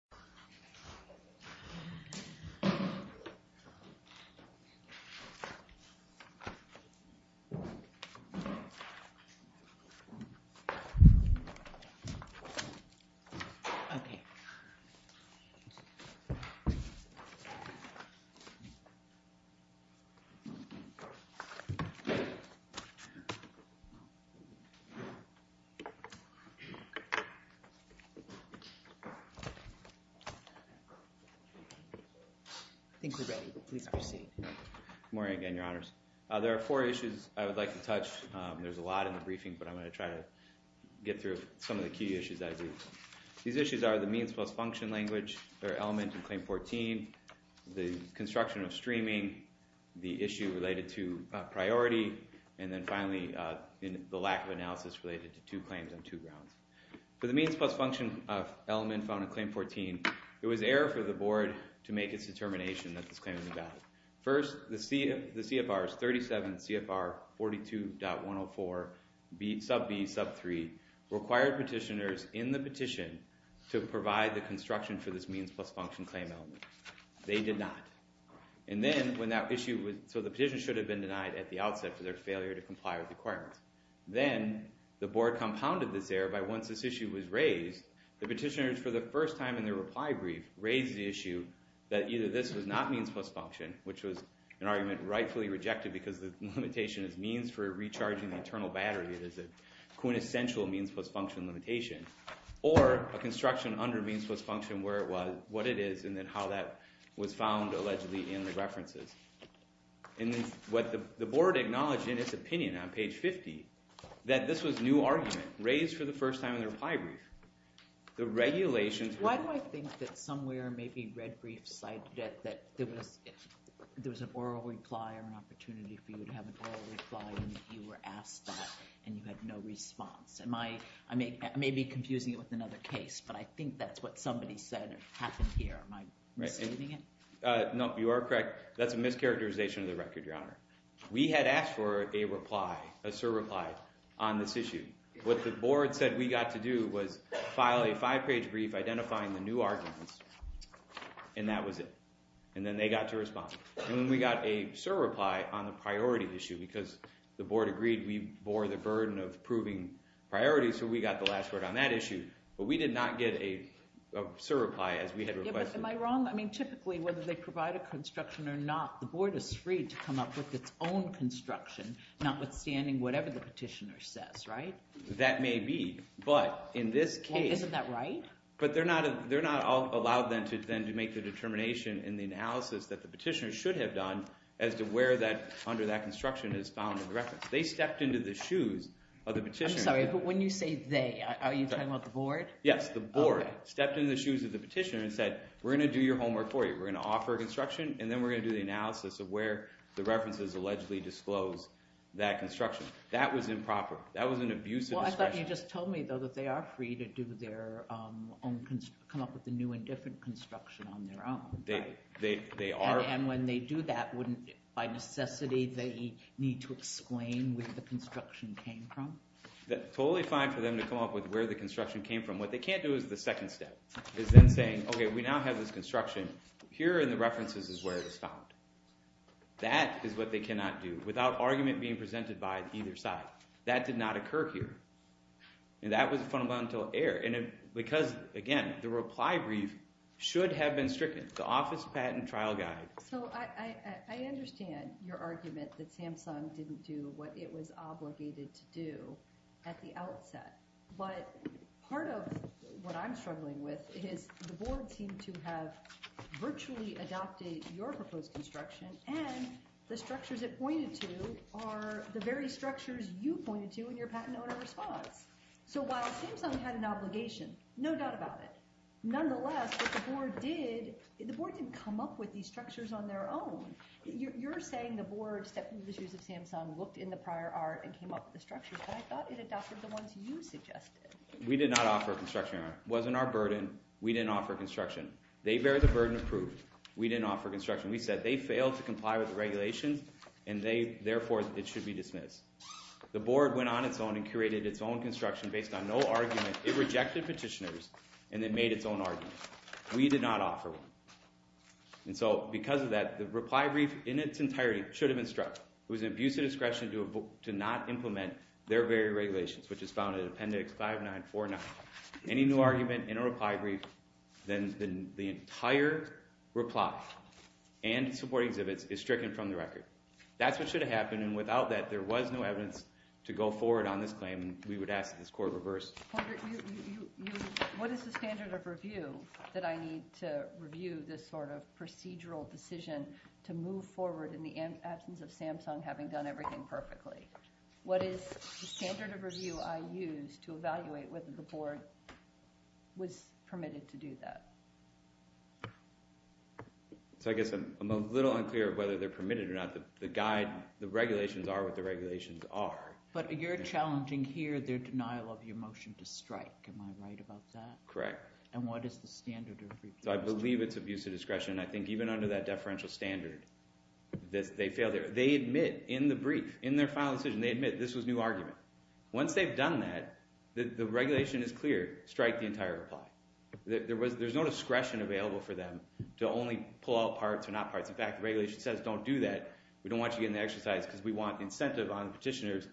Samsung Electronics Co., Ltd. I think we're ready. Please proceed. Good morning, again, Your Honors. There are four issues I would like to touch. There's a lot in the briefing, but I'm going to try to get through some of the key issues as we go. These issues are the means plus function language or element in Claim 14, the construction of streaming, the issue related to priority, and then finally, the lack of analysis related to two claims on two grounds. For the means plus function element found in Claim 14, it was error for the board to make its determination that this claim was invalid. First, the CFRs, 37 CFR 42.104, sub B, sub 3, required petitioners in the petition to provide the construction for this means plus function claim element. They did not. So the petition should have been denied at the outset for their failure to comply with the requirements. Then the board compounded this error by once this issue was raised, the petitioners, for the first time in their reply brief, raised the issue that either this was not means plus function, which was an argument rightfully rejected because the limitation is means for recharging the internal battery. There's a quintessential means plus function limitation, or a construction under means plus function where it was, what it is, and then how that was found allegedly in the references. And what the board acknowledged in its opinion on page 50, that this was new argument raised for the first time in the reply brief. The regulations- Why do I think that somewhere maybe Red Brief cited that there was an oral reply or an opportunity for you to have an oral reply and you were asked that and you had no response? I may be confusing it with another case, but I think that's what somebody said happened here. Am I misleading it? No, you are correct. That's a mischaracterization of the record, Your Honor. We had asked for a reply, a surreply on this issue. What the board said we got to do was file a five-page brief identifying the new arguments, and that was it. And then they got to respond. And then we got a surreply on the priority issue because the board agreed we bore the burden of proving priorities, so we got the last word on that issue. But we did not get a surreply as we had requested. Yeah, but am I wrong? I mean, typically, whether they provide a construction or not, the board is free to come up with its own construction, notwithstanding whatever the petitioner says, right? That may be, but in this case- Isn't that right? But they're not allowed then to make the determination and the analysis that the petitioner should have done as to where that under that construction is found in the record. They stepped into the shoes of the petitioner- I'm sorry, but when you say they, are you talking about the board? Yes, the board stepped in the shoes of the petitioner and said, we're going to do your homework for you. We're going to offer construction, and then we're going to do the analysis of where the references allegedly disclose that construction. That was improper. That was an abuse of discretion. Well, I thought you just told me, though, that they are free to come up with a new and different construction on their own. They are- And when they do that, by necessity, they need to explain where the construction came from? Totally fine for them to come up with where the construction came from. What they can't do is the second step, is then saying, okay, we now have this construction. Here in the references is where it was found. That is what they cannot do without argument being presented by either side. That did not occur here. And that was a fundamental error. And because, again, the reply brief should have been stricken. The office patent trial guide- So I understand your argument that Samsung didn't do what it was obligated to do at the outset. But part of what I'm struggling with is the board seemed to have virtually adopted your proposed construction, and the structures it pointed to are the very structures you pointed to in your patent owner response. So while Samsung had an obligation, no doubt about it, nonetheless, what the board did- You're saying the board stepped into the shoes of Samsung, looked in the prior art, and came up with the structures. But I thought it adopted the ones you suggested. We did not offer a construction. It wasn't our burden. We didn't offer construction. They bear the burden of proof. We didn't offer construction. We said they failed to comply with the regulations, and therefore it should be dismissed. The board went on its own and curated its own construction based on no argument. It rejected petitioners and then made its own argument. We did not offer one. And so because of that, the reply brief in its entirety should have been struck. It was an abuse of discretion to not implement their very regulations, which is found in Appendix 5949. Any new argument in a reply brief, then the entire reply and support exhibits is stricken from the record. That's what should have happened, and without that, there was no evidence to go forward on this claim, and we would ask that this court reverse. What is the standard of review that I need to review this sort of procedural decision to move forward in the absence of Samsung having done everything perfectly? What is the standard of review I use to evaluate whether the board was permitted to do that? So I guess I'm a little unclear whether they're permitted or not. The guide, the regulations are what the regulations are. But you're challenging here their denial of your motion to strike. Am I right about that? Correct. And what is the standard of review? So I believe it's abuse of discretion. I think even under that deferential standard, they fail there. They admit in the brief, in their final decision, they admit this was new argument. Once they've done that, the regulation is clear. Strike the entire reply. There's no discretion available for them to only pull out parts or not parts. In fact, the regulation says don't do that. We don't want you getting the exercise because we want incentive on petitioners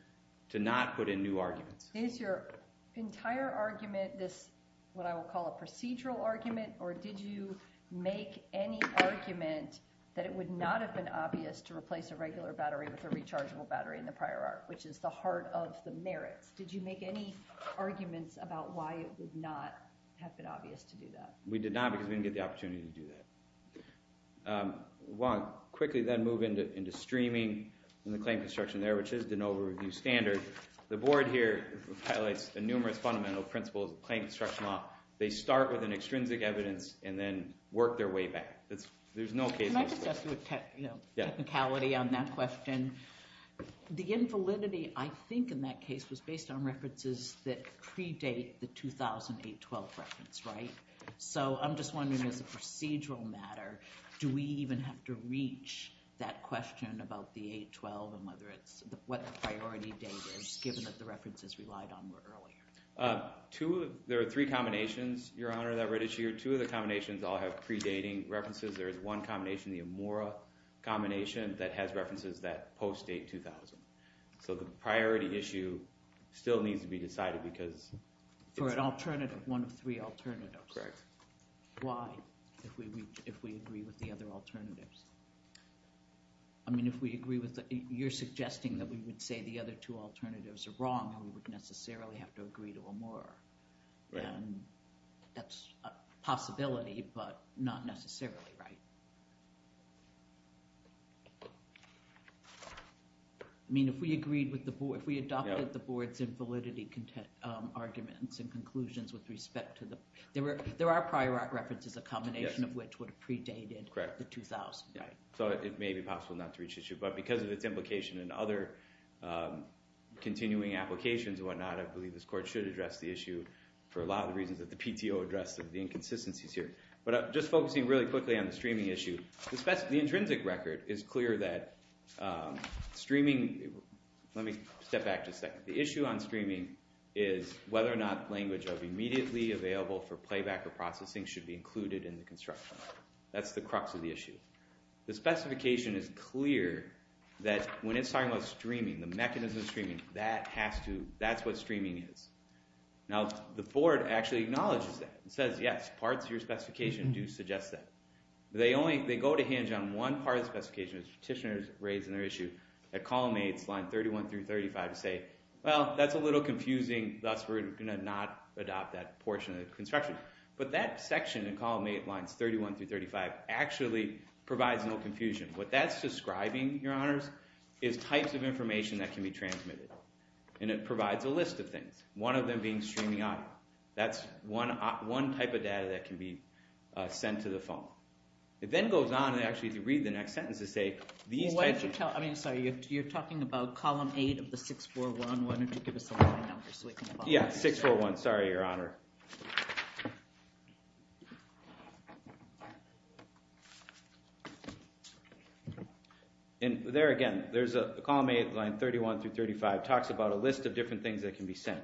to not put in new arguments. Is your entire argument this what I would call a procedural argument? Or did you make any argument that it would not have been obvious to replace a regular battery with a rechargeable battery in the prior arc, which is the heart of the merits? Did you make any arguments about why it would not have been obvious to do that? We did not because we didn't get the opportunity to do that. I want to quickly then move into streaming and the claim construction there, which is the no review standard. The board here highlights the numerous fundamental principles of claim construction law. They start with an extrinsic evidence and then work their way back. There's no case. Can I just ask you a technicality on that question? The invalidity, I think, in that case was based on references that predate the 2008-12 reference, right? So I'm just wondering, as a procedural matter, do we even have to reach that question about the 8-12 and what the priority date is, given that the references relied on were earlier? There are three combinations, Your Honor, that were issued. Two of the combinations all have predating references. There is one combination, the Amora combination, that has references that post-date 2000. So the priority issue still needs to be decided because— But alternative, one of three alternatives. Correct. Why, if we agree with the other alternatives? I mean, if we agree with—you're suggesting that we would say the other two alternatives are wrong and we would necessarily have to agree to Amora. Right. And that's a possibility, but not necessarily right. I mean, if we agreed with the board—if we adopted the board's invalidity arguments and conclusions with respect to the—there are prior references, a combination of which would have predated the 2000. Correct. So it may be possible not to reach this issue, but because of its implication in other continuing applications and whatnot, I believe this court should address the issue for a lot of reasons that the PTO addressed of the inconsistencies here. But just focusing really quickly on the streaming issue, the intrinsic record is clear that streaming—let me step back just a second. The issue on streaming is whether or not language of immediately available for playback or processing should be included in the construction. That's the crux of the issue. The specification is clear that when it's talking about streaming, the mechanism of streaming, that has to—that's what streaming is. Now, the board actually acknowledges that. It says, yes, parts of your specification do suggest that. They only—they go to hinge on one part of the specification, which petitioners raised in their issue at column 8, line 31 through 35, to say, well, that's a little confusing, thus we're going to not adopt that portion of the construction. But that section in column 8, lines 31 through 35, actually provides no confusion. What that's describing, Your Honors, is types of information that can be transmitted, and it provides a list of things, one of them being streaming audio. That's one type of data that can be sent to the phone. It then goes on, actually, to read the next sentence to say these types of— Well, why don't you tell—I mean, sorry, you're talking about column 8 of the 641. Why don't you give us the line number so we can follow this? Yeah, 641. Sorry, Your Honor. And there again, there's a column 8, line 31 through 35, talks about a list of different things that can be sent.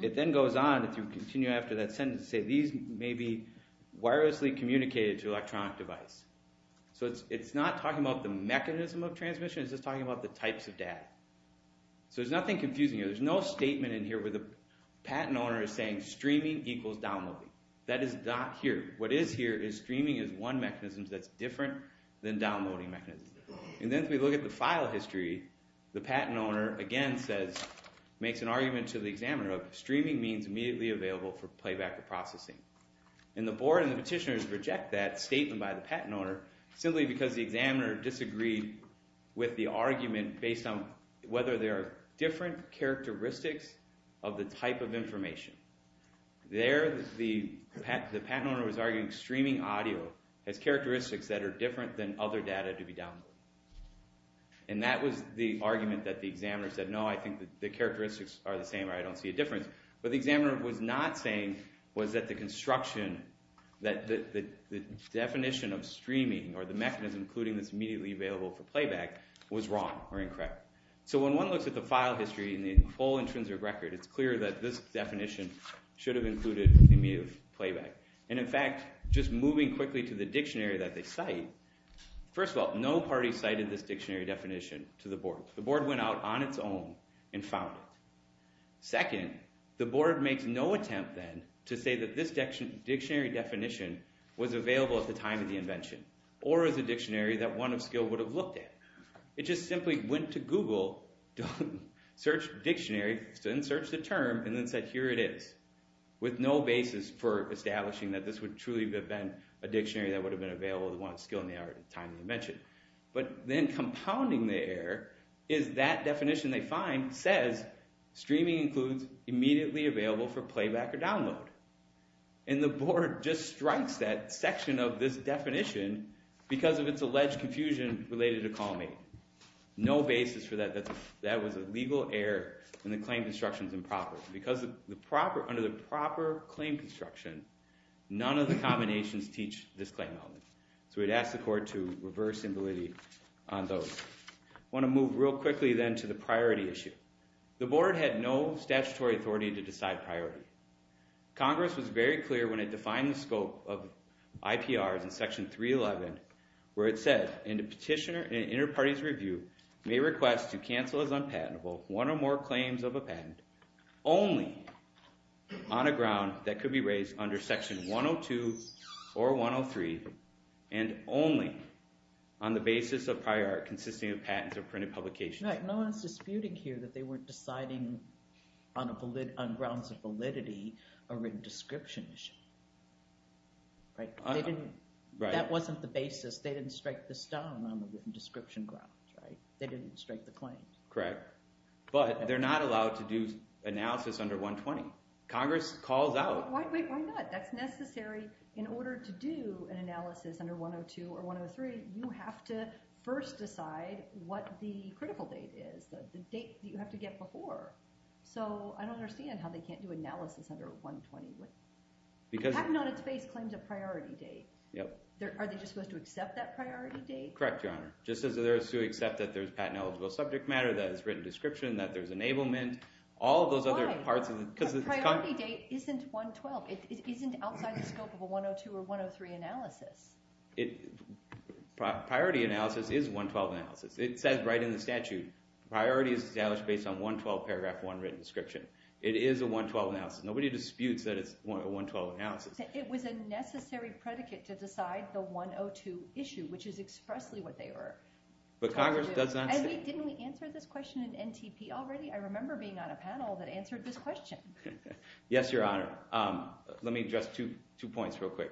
It then goes on to continue after that sentence to say these may be wirelessly communicated to an electronic device. So it's not talking about the mechanism of transmission. It's just talking about the types of data. So there's nothing confusing here. There's no statement in here where the patent owner is saying streaming equals downloading. That is not here. What is here is streaming is one mechanism that's different than downloading mechanisms. And then if we look at the file history, the patent owner, again, makes an argument to the examiner of streaming means immediately available for playback or processing. And the board and the petitioners reject that statement by the patent owner simply because the examiner disagreed with the argument based on whether there are different characteristics of the type of information. There, the patent owner was arguing streaming audio has characteristics that are different than other data to be downloaded. And that was the argument that the examiner said, no, I think the characteristics are the same or I don't see a difference. But the examiner was not saying was that the construction, that the definition of streaming or the mechanism including this immediately available for playback was wrong or incorrect. So when one looks at the file history and the whole intrinsic record, it's clear that this definition should have included immediate playback. And in fact, just moving quickly to the dictionary that they cite, first of all, no party cited this dictionary definition to the board. The board went out on its own and found it. Second, the board makes no attempt then to say that this dictionary definition was available at the time of the invention or as a dictionary that one of skill would have looked at. It just simply went to Google, searched dictionary, then searched the term, and then said, here it is. With no basis for establishing that this would truly have been a dictionary that would have been available to one of skill in the time of the invention. But then compounding the error is that definition they find says streaming includes immediately available for playback or download. And the board just strikes that section of this definition because of its alleged confusion related to call me. No basis for that. That was a legal error. And the claim construction is improper. Under the proper claim construction, none of the combinations teach this claim element. So we'd ask the court to reverse similarity on those. I want to move real quickly then to the priority issue. The board had no statutory authority to decide priority. Congress was very clear when it defined the scope of IPRs in section 311 where it said, and the petitioner in an inter-parties review may request to cancel as unpatentable one or more claims of a patent only on a ground that could be raised under section 102 or 103 and only on the basis of prior art consisting of patents or printed publications. Right. No one's disputing here that they weren't deciding on grounds of validity a written description issue. That wasn't the basis. They didn't strike this down on the written description grounds. They didn't strike the claim. Correct. But they're not allowed to do analysis under 120. Congress calls out. Wait, why not? That's necessary. In order to do an analysis under 102 or 103, you have to first decide what the critical date is, the date that you have to get before. So I don't understand how they can't do analysis under 120. Patent on its base claims a priority date. Yep. Are they just supposed to accept that priority date? Correct, Your Honor. Just as it is to accept that there's patent eligible subject matter, that it's written description, that there's enablement, all those other parts. Priority date isn't 112. It isn't outside the scope of a 102 or 103 analysis. Priority analysis is 112 analysis. It says right in the statute, priority is established based on 112 paragraph one written description. It is a 112 analysis. Nobody disputes that it's a 112 analysis. It was a necessary predicate to decide the 102 issue, which is expressly what they were told to do. But Congress does not say. Didn't we answer this question in NTP already? I remember being on a panel that answered this question. Yes, Your Honor. Let me address two points real quick.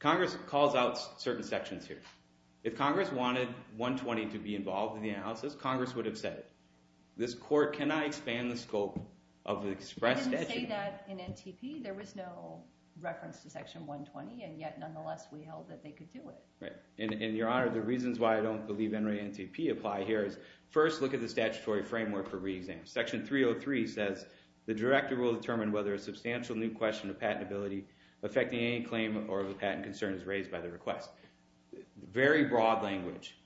Congress calls out certain sections here. If Congress wanted 120 to be involved in the analysis, Congress would have said it. This court cannot expand the scope of the expressed statute. They didn't say that in NTP. There was no reference to section 120, and yet, nonetheless, we held that they could do it. Right. And, Your Honor, the reasons why I don't believe NREA and NTP apply here is first look at the statutory framework for re-exam. Section 303 says the director will determine whether a substantial new question of patentability affecting any claim or of a patent concern is raised by the request. Very broad language.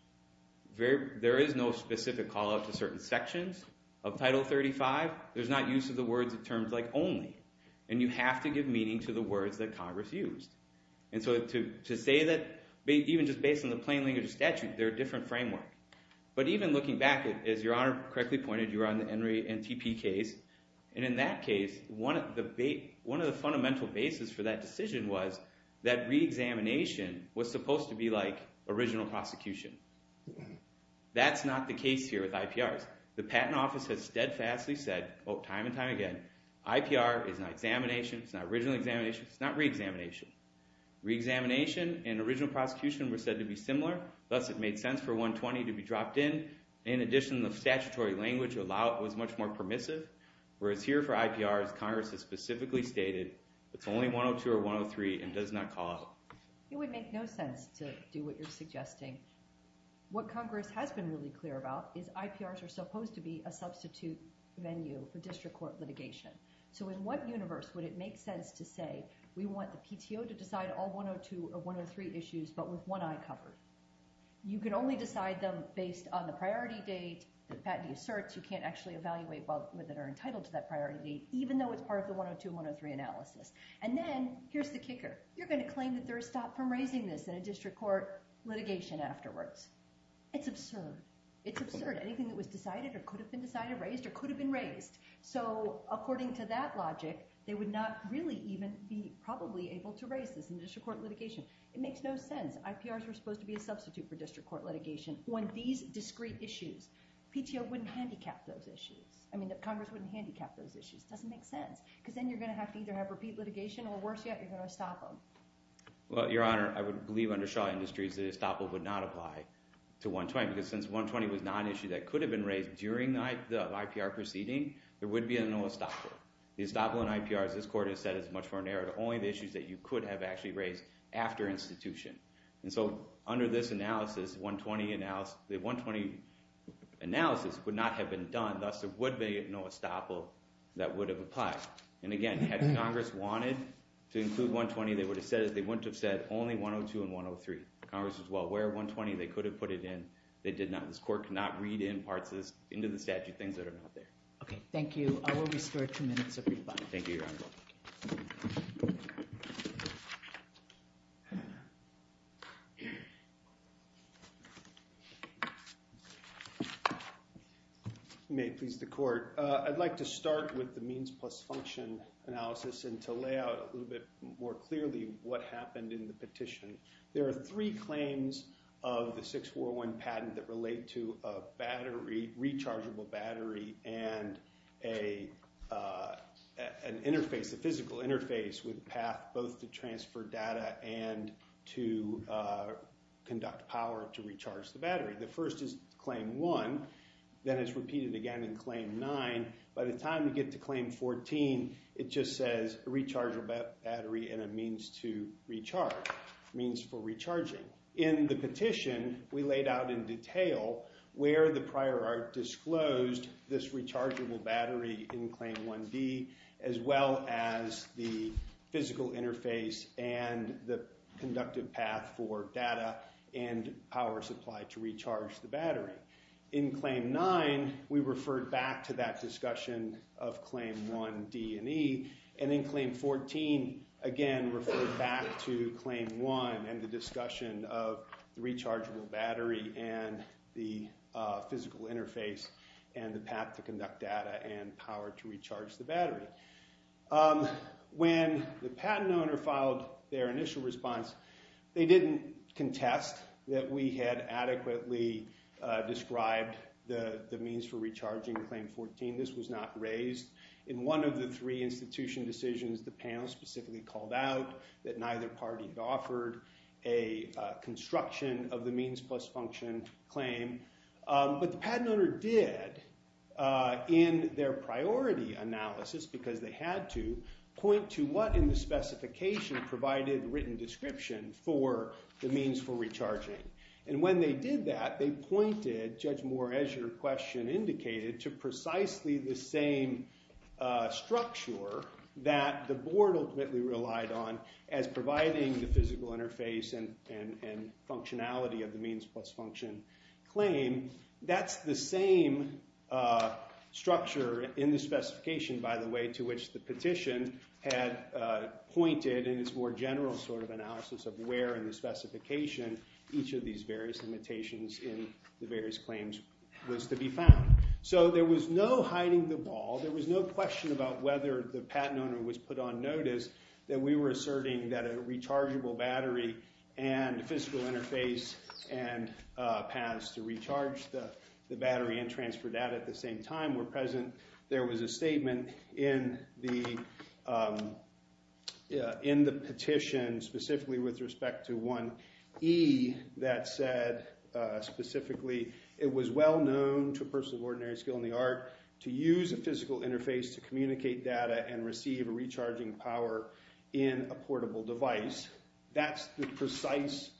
There is no specific call out to certain sections of Title 35. There's not use of the words or terms like only. And you have to give meaning to the words that Congress used. And so to say that even just based on the plain language of statute, they're a different framework. But even looking back, as Your Honor correctly pointed, you were on the NREA and NTP case. And in that case, one of the fundamental bases for that decision was that re-examination was supposed to be like original prosecution. That's not the case here with IPRs. The patent office has steadfastly said time and time again, IPR is not examination. It's not original examination. It's not re-examination. Re-examination and original prosecution were said to be similar. Thus, it made sense for 120 to be dropped in. In addition, the statutory language was much more permissive, whereas here for IPRs, Congress has specifically stated it's only 102 or 103 and does not call out. It would make no sense to do what you're suggesting. What Congress has been really clear about is IPRs are supposed to be a substitute venue for district court litigation. So in what universe would it make sense to say we want the PTO to decide all 102 or 103 issues but with one eye covered? You can only decide them based on the priority date. The patent asserts you can't actually evaluate whether they're entitled to that priority date even though it's part of the 102, 103 analysis. And then here's the kicker. You're going to claim that there's a stop from raising this in a district court litigation afterwards. It's absurd. It's absurd. Anything that was decided or could have been decided raised or could have been raised. So according to that logic, they would not really even be probably able to raise this in district court litigation. It makes no sense. IPRs were supposed to be a substitute for district court litigation. On these discrete issues, PTO wouldn't handicap those issues. I mean Congress wouldn't handicap those issues. It doesn't make sense because then you're going to have to either have repeat litigation or worse yet, you're going to stop them. Well, Your Honor, I would believe under Shaw Industries that estoppel would not apply to 120. Because since 120 was not an issue that could have been raised during the IPR proceeding, there would be no estoppel. The estoppel in IPRs, this court has said, is much more narrow. Only the issues that you could have actually raised after institution. And so under this analysis, the 120 analysis would not have been done. Thus, there would be no estoppel that would have applied. And again, had Congress wanted to include 120, they would have said it. They wouldn't have said only 102 and 103. Congress was, well, where are 120? They could have put it in. They did not. This court cannot read in parts of this into the statute, things that are not there. Okay. Thank you. I will restore two minutes of refund. Thank you, Your Honor. You may please the court. I'd like to start with the means plus function analysis and to lay out a little bit more clearly what happened in the petition. There are three claims of the 641 patent that relate to a rechargeable battery and an interface, a physical interface with a path both to transfer data and to conduct power to recharge the battery. The first is Claim 1. Then it's repeated again in Claim 9. By the time you get to Claim 14, it just says rechargeable battery and a means to recharge, means for recharging. In the petition, we laid out in detail where the prior art disclosed this rechargeable battery in Claim 1D, as well as the physical interface and the conductive path for data and power supply to recharge the battery. In Claim 9, we referred back to that discussion of Claim 1D and E. And in Claim 14, again, referred back to Claim 1 and the discussion of the rechargeable battery and the physical interface and the path to conduct data and power to recharge the battery. When the patent owner filed their initial response, they didn't contest that we had adequately described the means for recharging Claim 14. This was not raised. In one of the three institution decisions, the panel specifically called out that neither party had offered a construction of the means plus function claim. But the patent owner did in their priority analysis because they had to point to what in the specification provided written description for the means for recharging. And when they did that, they pointed, Judge Moore, as your question indicated, to precisely the same structure that the board ultimately relied on as providing the physical interface and functionality of the means plus function claim. That's the same structure in the specification, by the way, to which the petition had pointed in its more general sort of analysis of where in the specification each of these various limitations in the various claims was to be found. So there was no hiding the ball. There was no question about whether the patent owner was put on notice that we were asserting that a rechargeable battery and physical interface and paths to recharge the battery and transfer data at the same time were present. There was a statement in the petition specifically with respect to 1E that said specifically it was well known to a person of ordinary skill in the art to use a physical interface to communicate data and receive a recharging power in a portable device. That's the precise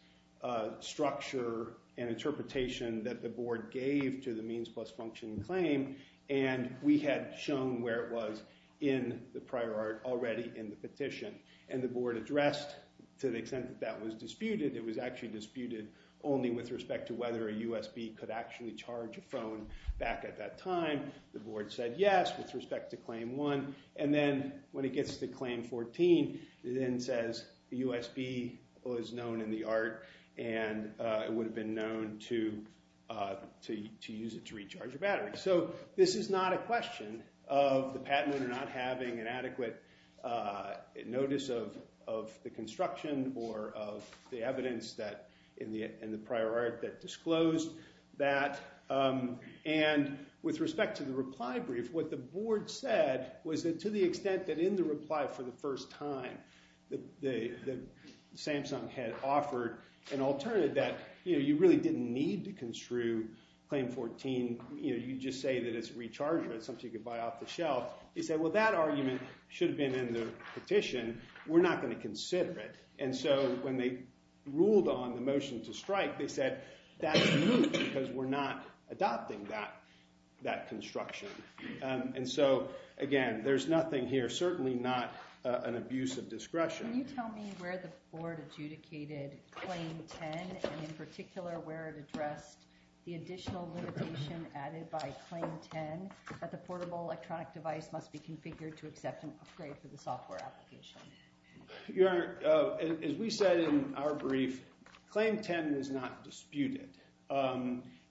structure and interpretation that the board gave to the means plus function claim. And we had shown where it was in the prior art already in the petition. And the board addressed, to the extent that that was disputed, it was actually disputed only with respect to whether a USB could actually charge a phone back at that time. The board said yes with respect to Claim 1. And then when it gets to Claim 14, it then says the USB was known in the art, and it would have been known to use it to recharge a battery. So this is not a question of the patent owner not having an adequate notice of the construction or of the evidence in the prior art that disclosed that. And with respect to the reply brief, what the board said was that to the extent that in the reply for the first time that Samsung had offered an alternative that you really didn't need to construe Claim 14. You just say that it's a recharger. It's something you could buy off the shelf. They said, well, that argument should have been in the petition. We're not going to consider it. And so when they ruled on the motion to strike, they said, that's moot, because we're not adopting that construction. And so again, there's nothing here, certainly not an abuse of discretion. Can you tell me where the board adjudicated Claim 10, and in particular, where it addressed the additional limitation added by Claim 10 that the portable electronic device must be configured to accept an upgrade for the software application? Your Honor, as we said in our brief, Claim 10 is not disputed.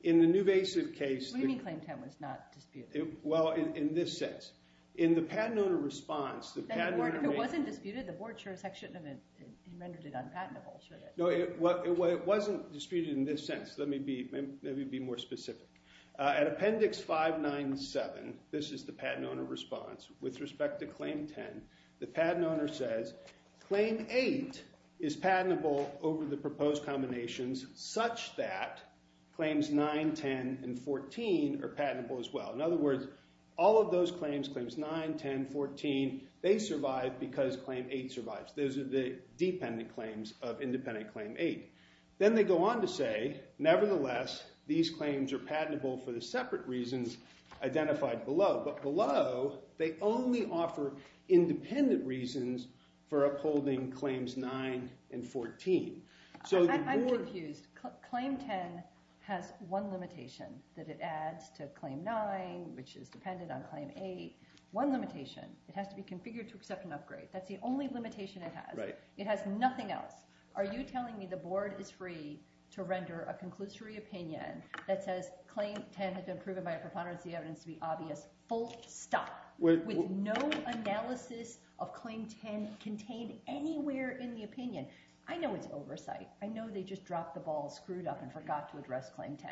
In the newvasive case. What do you mean, Claim 10 was not disputed? Well, in this sense. In the patent owner response, the patent owner made. If it wasn't disputed, the board sure as heck shouldn't have amended it on patentable, should it? No, it wasn't disputed in this sense. Let me be more specific. At Appendix 597, this is the patent owner response. With respect to Claim 10, the patent owner says, Claim 8 is patentable over the proposed combinations such that Claims 9, 10, and 14 are patentable as well. In other words, all of those claims, Claims 9, 10, 14, they survive because Claim 8 survives. Those are the dependent claims of independent Claim 8. Then they go on to say, nevertheless, these claims are patentable for the separate reasons identified below. But below, they only offer independent reasons for upholding Claims 9 and 14. I'm confused. Claim 10 has one limitation that it adds to Claim 9, which is dependent on Claim 8. One limitation, it has to be configured to accept an upgrade. That's the only limitation it has. It has nothing else. Are you telling me the board is free to render a conclusory opinion that says Claim 10 has been proven by a preponderance of the evidence to be obvious, full stop, with no analysis of Claim 10 contained anywhere in the opinion? I know it's oversight. I know they just dropped the ball, screwed up, and forgot to address Claim 10.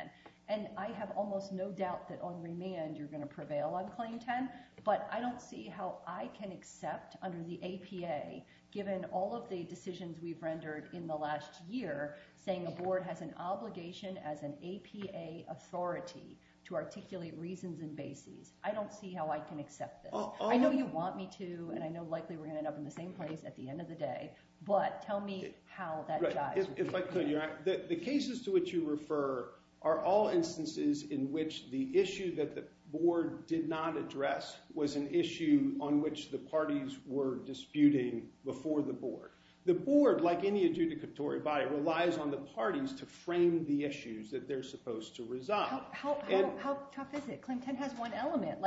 And I have almost no doubt that on remand you're going to prevail on Claim 10, but I don't see how I can accept under the APA, given all of the decisions we've rendered in the last year, saying a board has an obligation as an APA authority to articulate reasons and bases. I don't see how I can accept this. I know you want me to, and I know likely we're going to end up in the same place at the end of the day, but tell me how that jives with me. The cases to which you refer are all instances in which the issue that the board did not address was an issue on which the parties were disputing before the board. The board, like any adjudicatory body, relies on the parties to frame the issues that they're supposed to resolve. How tough is it? Claim 10 has one element.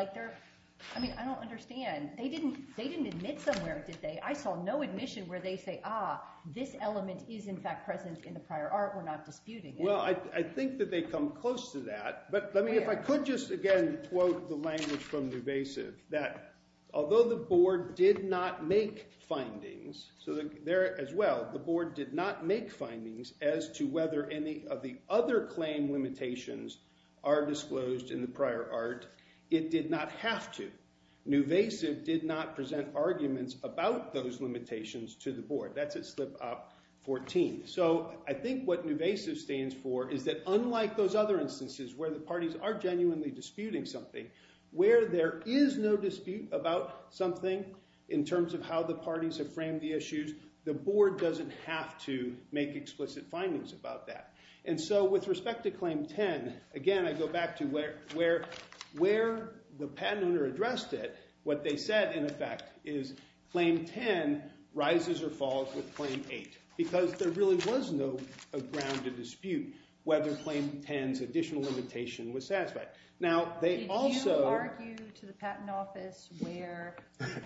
I mean, I don't understand. They didn't admit somewhere, did they? I saw no admission where they say, ah, this element is, in fact, present in the prior art. We're not disputing it. Well, I think that they come close to that. But if I could just, again, quote the language from Nuvasiv, that although the board did not make findings, so there as well, the board did not make findings as to whether any of the other claim limitations are disclosed in the prior art. It did not have to. Nuvasiv did not present arguments about those limitations to the board. That's at slip up 14. So I think what Nuvasiv stands for is that unlike those other instances where the parties are genuinely disputing something, where there is no dispute about something in terms of how the parties have framed the issues, the board doesn't have to make explicit findings about that. And so with respect to Claim 10, again, I go back to where the patent owner addressed it. What they said, in effect, is Claim 10 rises or falls with Claim 8 because there really was no ground to dispute whether Claim 10's additional limitation was satisfied. Now, they also— Did you argue to the Patent Office where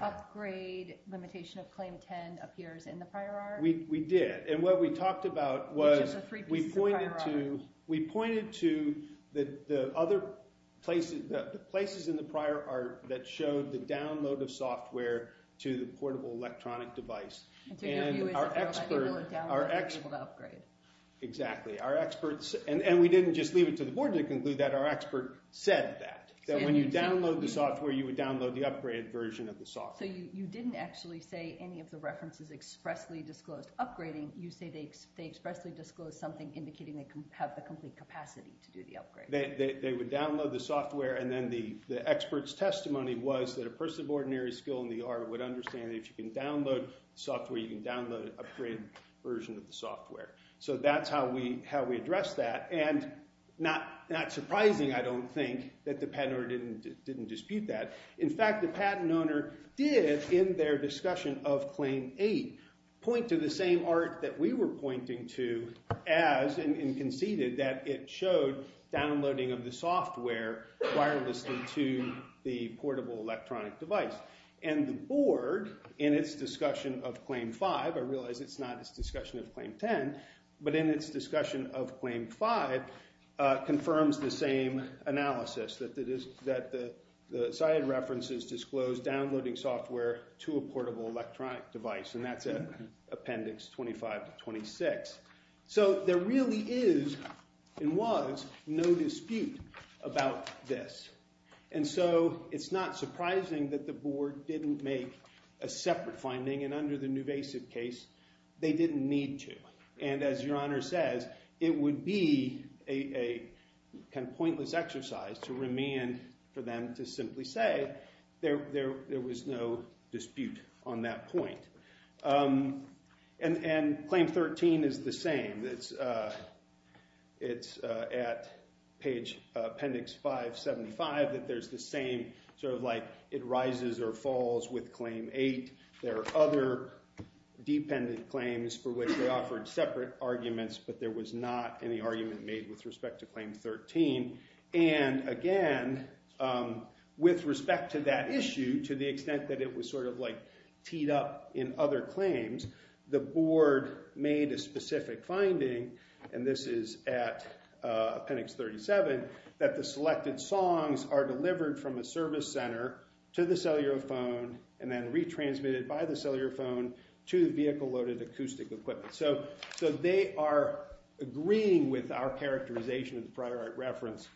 upgrade limitation of Claim 10 appears in the prior art? We did. And what we talked about was we pointed to the places in the prior art that showed the download of software to the portable electronic device. And so your view is that people who download it are able to upgrade. Exactly. And we didn't just leave it to the board to conclude that. Our expert said that, that when you download the software, you would download the upgraded version of the software. So you didn't actually say any of the references expressly disclosed upgrading. You say they expressly disclosed something indicating they have the complete capacity to do the upgrade. They would download the software, and then the expert's testimony was that a person of ordinary skill in the art would understand that if you can download software, you can download an upgraded version of the software. So that's how we addressed that. And not surprising, I don't think, that the patent owner didn't dispute that. In fact, the patent owner did, in their discussion of Claim 8, point to the same art that we were pointing to as and conceded that it showed downloading of the software wirelessly to the portable electronic device. And the board, in its discussion of Claim 5, I realize it's not its discussion of Claim 10, but in its discussion of Claim 5, confirms the same analysis, that the cited references disclose downloading software to a portable electronic device. And that's in Appendix 25 to 26. So there really is, and was, no dispute about this. And so it's not surprising that the board didn't make a separate finding. And under the Nuvasiv case, they didn't need to. And as Your Honor says, it would be a kind of pointless exercise to remand for them to simply say there was no dispute on that point. And Claim 13 is the same. It's at page Appendix 575 that there's the same sort of like it rises or falls with Claim 8. There are other dependent claims for which they offered separate arguments, but there was not any argument made with respect to Claim 13. And again, with respect to that issue, to the extent that it was sort of like teed up in other claims, the board made a specific finding, and this is at Appendix 37, that the selected songs are delivered from a service center to the cellular phone and then retransmitted by the cellular phone to the vehicle-loaded acoustic equipment. So they are agreeing with our characterization of the Prior Art Reference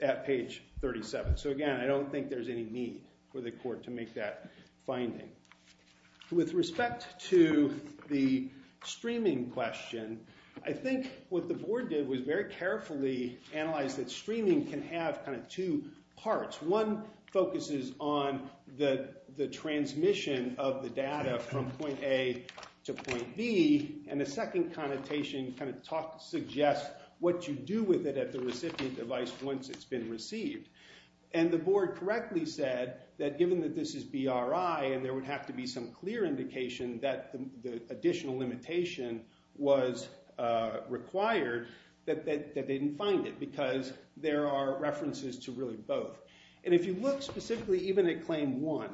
at page 37. So again, I don't think there's any need for the court to make that finding. With respect to the streaming question, I think what the board did was very carefully analyze that streaming can have kind of two parts. One focuses on the transmission of the data from point A to point B, and the second connotation kind of suggests what you do with it at the recipient device once it's been received. And the board correctly said that given that this is BRI and there would have to be some clear indication that the additional limitation was required, that they didn't find it because there are references to really both. And if you look specifically even at Claim 1,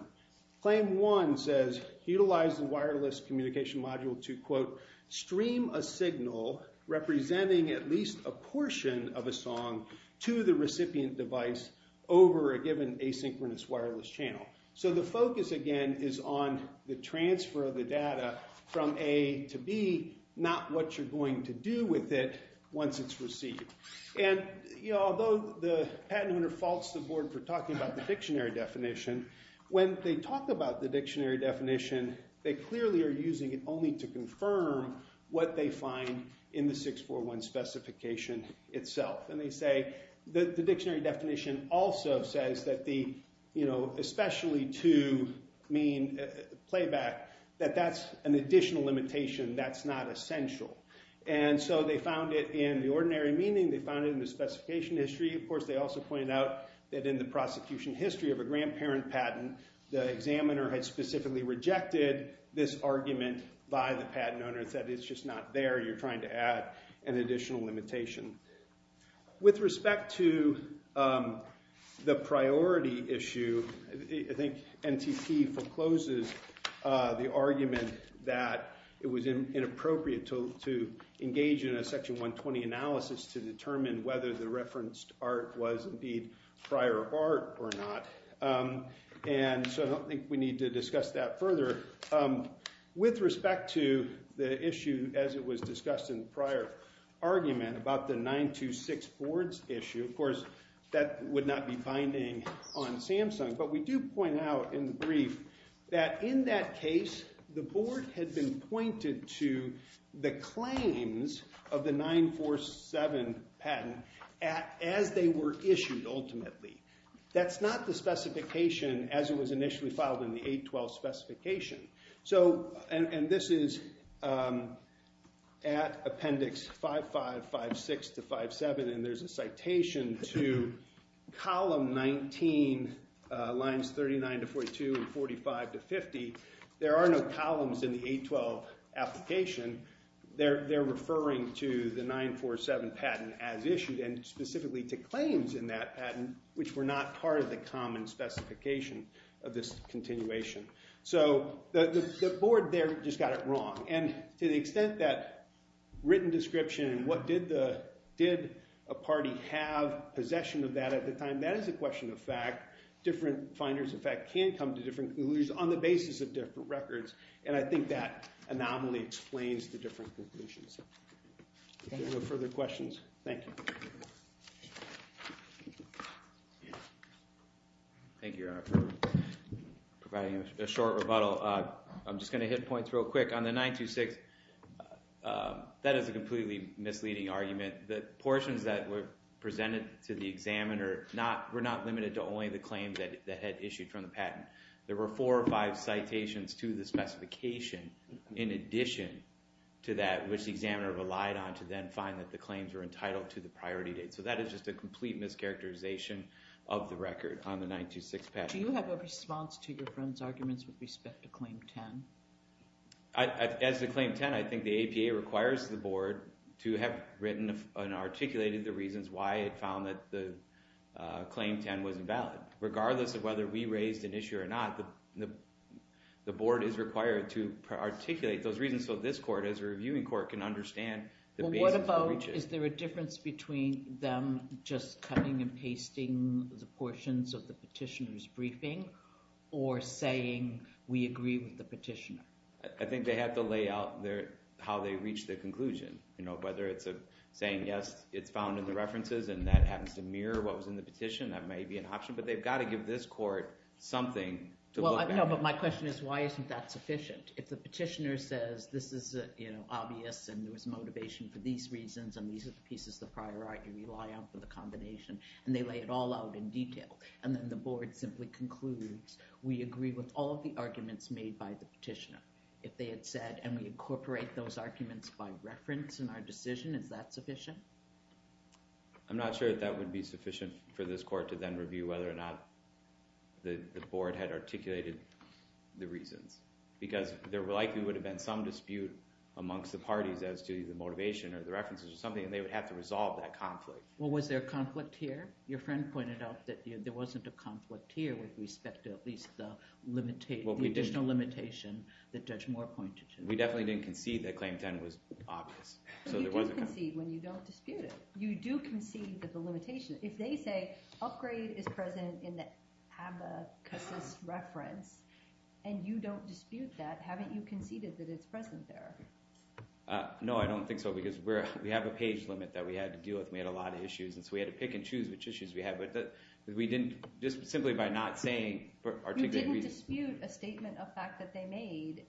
Claim 1 says, utilize the wireless communication module to, quote, stream a signal representing at least a portion of a song to the recipient device over a given asynchronous wireless channel. So the focus, again, is on the transfer of the data from A to B, not what you're going to do with it once it's received. And although the patent owner faults the board for talking about the dictionary definition, when they talk about the dictionary definition, they clearly are using it only to confirm what they find in the 641 specification itself. And they say that the dictionary definition also says that the especially to mean playback, that that's an additional limitation. That's not essential. And so they found it in the ordinary meaning. They found it in the specification history. Of course, they also pointed out that in the prosecution history of a grandparent patent, the examiner had specifically rejected this argument by the patent owner and said, it's just not there. You're trying to add an additional limitation. With respect to the priority issue, I think NTP forecloses the argument that it was inappropriate to engage in a Section 120 analysis to determine whether the referenced art was, indeed, prior art or not. And so I don't think we need to discuss that further. With respect to the issue, as it was discussed in the prior argument about the 926 boards issue, of course, that would not be binding on Samsung. But we do point out in the brief that in that case, the board had been pointed to the claims of the 947 patent as they were issued, ultimately. That's not the specification as it was initially filed in the 812 specification. And this is at Appendix 55, 56 to 57. And there's a citation to column 19, lines 39 to 42 and 45 to 50. There are no columns in the 812 application. They're referring to the 947 patent as issued and specifically to claims in that patent, which were not part of the common specification of this continuation. So the board there just got it wrong. And to the extent that written description and what did a party have possession of that at the time, that is a question of fact. Different finders of fact can come to different conclusions on the basis of different records. And I think that anomaly explains the different conclusions. If there are no further questions, thank you. Thank you, Your Honor, for providing a short rebuttal. I'm just going to hit points real quick. On the 926, that is a completely misleading argument. The portions that were presented to the examiner were not limited to only the claims that had issued from the patent. There were four or five citations to the specification in addition to that, which the examiner relied on to then find that the claims were entitled to the priority date. So that is just a complete mischaracterization of the record on the 926 patent. Do you have a response to your friend's arguments with respect to Claim 10? As to Claim 10, I think the APA requires the board to have written and articulated the reasons why it found that the Claim 10 was invalid. Regardless of whether we raised an issue or not, the board is required to articulate those reasons so this court, as a reviewing court, can understand the basis for reaching it. Is there a difference between them just cutting and pasting the portions of the petitioner's briefing or saying, we agree with the petitioner? I think they have to lay out how they reach their conclusion. Whether it's saying, yes, it's found in the references and that happens to mirror what was in the petition, that may be an option. But they've got to give this court something to look at. But my question is, why isn't that sufficient? If the petitioner says, this is obvious and there was motivation for these reasons and these are the pieces of prior art you rely on for the combination, and they lay it all out in detail. And then the board simply concludes, we agree with all of the arguments made by the petitioner. If they had said, and we incorporate those arguments by reference in our decision, is that sufficient? I'm not sure that that would be sufficient for this court to then review whether or not the board had articulated the reasons. Because there likely would have been some dispute amongst the parties as to the motivation or the references or something, and they would have to resolve that conflict. Well, was there a conflict here? Your friend pointed out that there wasn't a conflict here with respect to at least the additional limitation that Judge Moore pointed to. We definitely didn't concede that Claim 10 was obvious. But you do concede when you don't dispute it. You do concede that the limitation, if they say, upgrade is present in the Habakus' reference, and you don't dispute that, haven't you conceded that it's present there? No, I don't think so. Because we have a page limit that we had to deal with. We had a lot of issues. And so we had to pick and choose which issues we had. But we didn't, just simply by not saying, for articulated reasons. You didn't dispute a statement of fact that they made.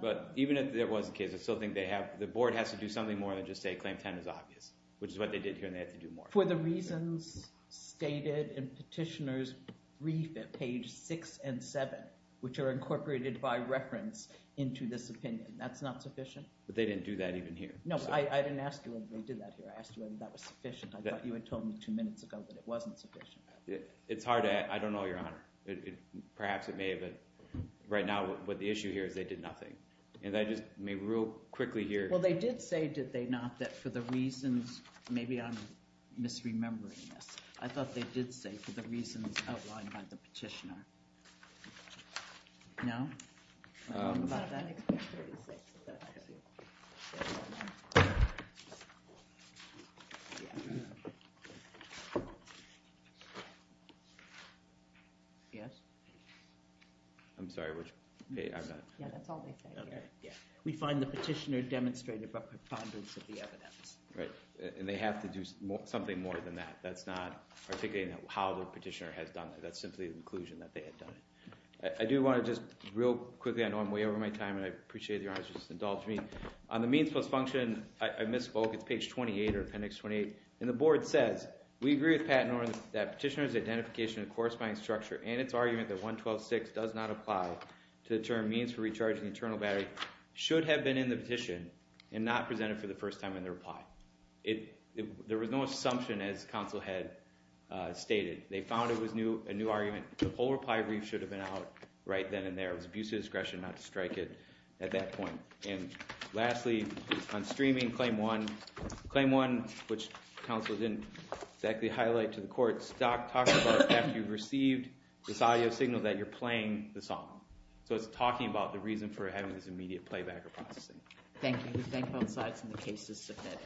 But even if there was a case, I still think they have, the board has to do something more than just say Claim 10 is obvious, which is what they did here, and they have to do more. For the reasons stated in Petitioner's brief at page 6 and 7, which are incorporated by reference into this opinion, that's not sufficient? But they didn't do that even here. No, I didn't ask you whether they did that here. I asked you whether that was sufficient. I thought you had told me two minutes ago that it wasn't sufficient. It's hard to—I don't know, Your Honor. Perhaps it may have been. Right now, the issue here is they did nothing. And I just may real quickly here— I'm misremembering this. I thought they did say, for the reasons outlined by the petitioner. No? Yes? I'm sorry, which page? I'm not— Yeah, that's all they say. We find the petitioner demonstrated a preponderance of the evidence. Right. And they have to do something more than that. That's not articulating how the petitioner has done it. That's simply an inclusion that they had done it. I do want to just real quickly—I know I'm way over my time, and I appreciate that Your Honor has just indulged me. On the means plus function, I misspoke. It's page 28 or appendix 28. And the board says, We agree with Pat Norton that petitioner's identification of the corresponding structure and its argument that 112.6 does not apply to the term means for recharging the internal battery should have been in the petition and not presented for the first time in the reply. There was no assumption, as counsel had stated. They found it was a new argument. The whole reply brief should have been out right then and there. It was abuse of discretion not to strike it at that point. And lastly, on streaming, claim one. Claim one, which counsel didn't exactly highlight to the court, talks about after you've received this audio signal that you're playing the song. So it's talking about the reason for having this immediate playback or processing. Thank you. We thank both sides and the case is submitted.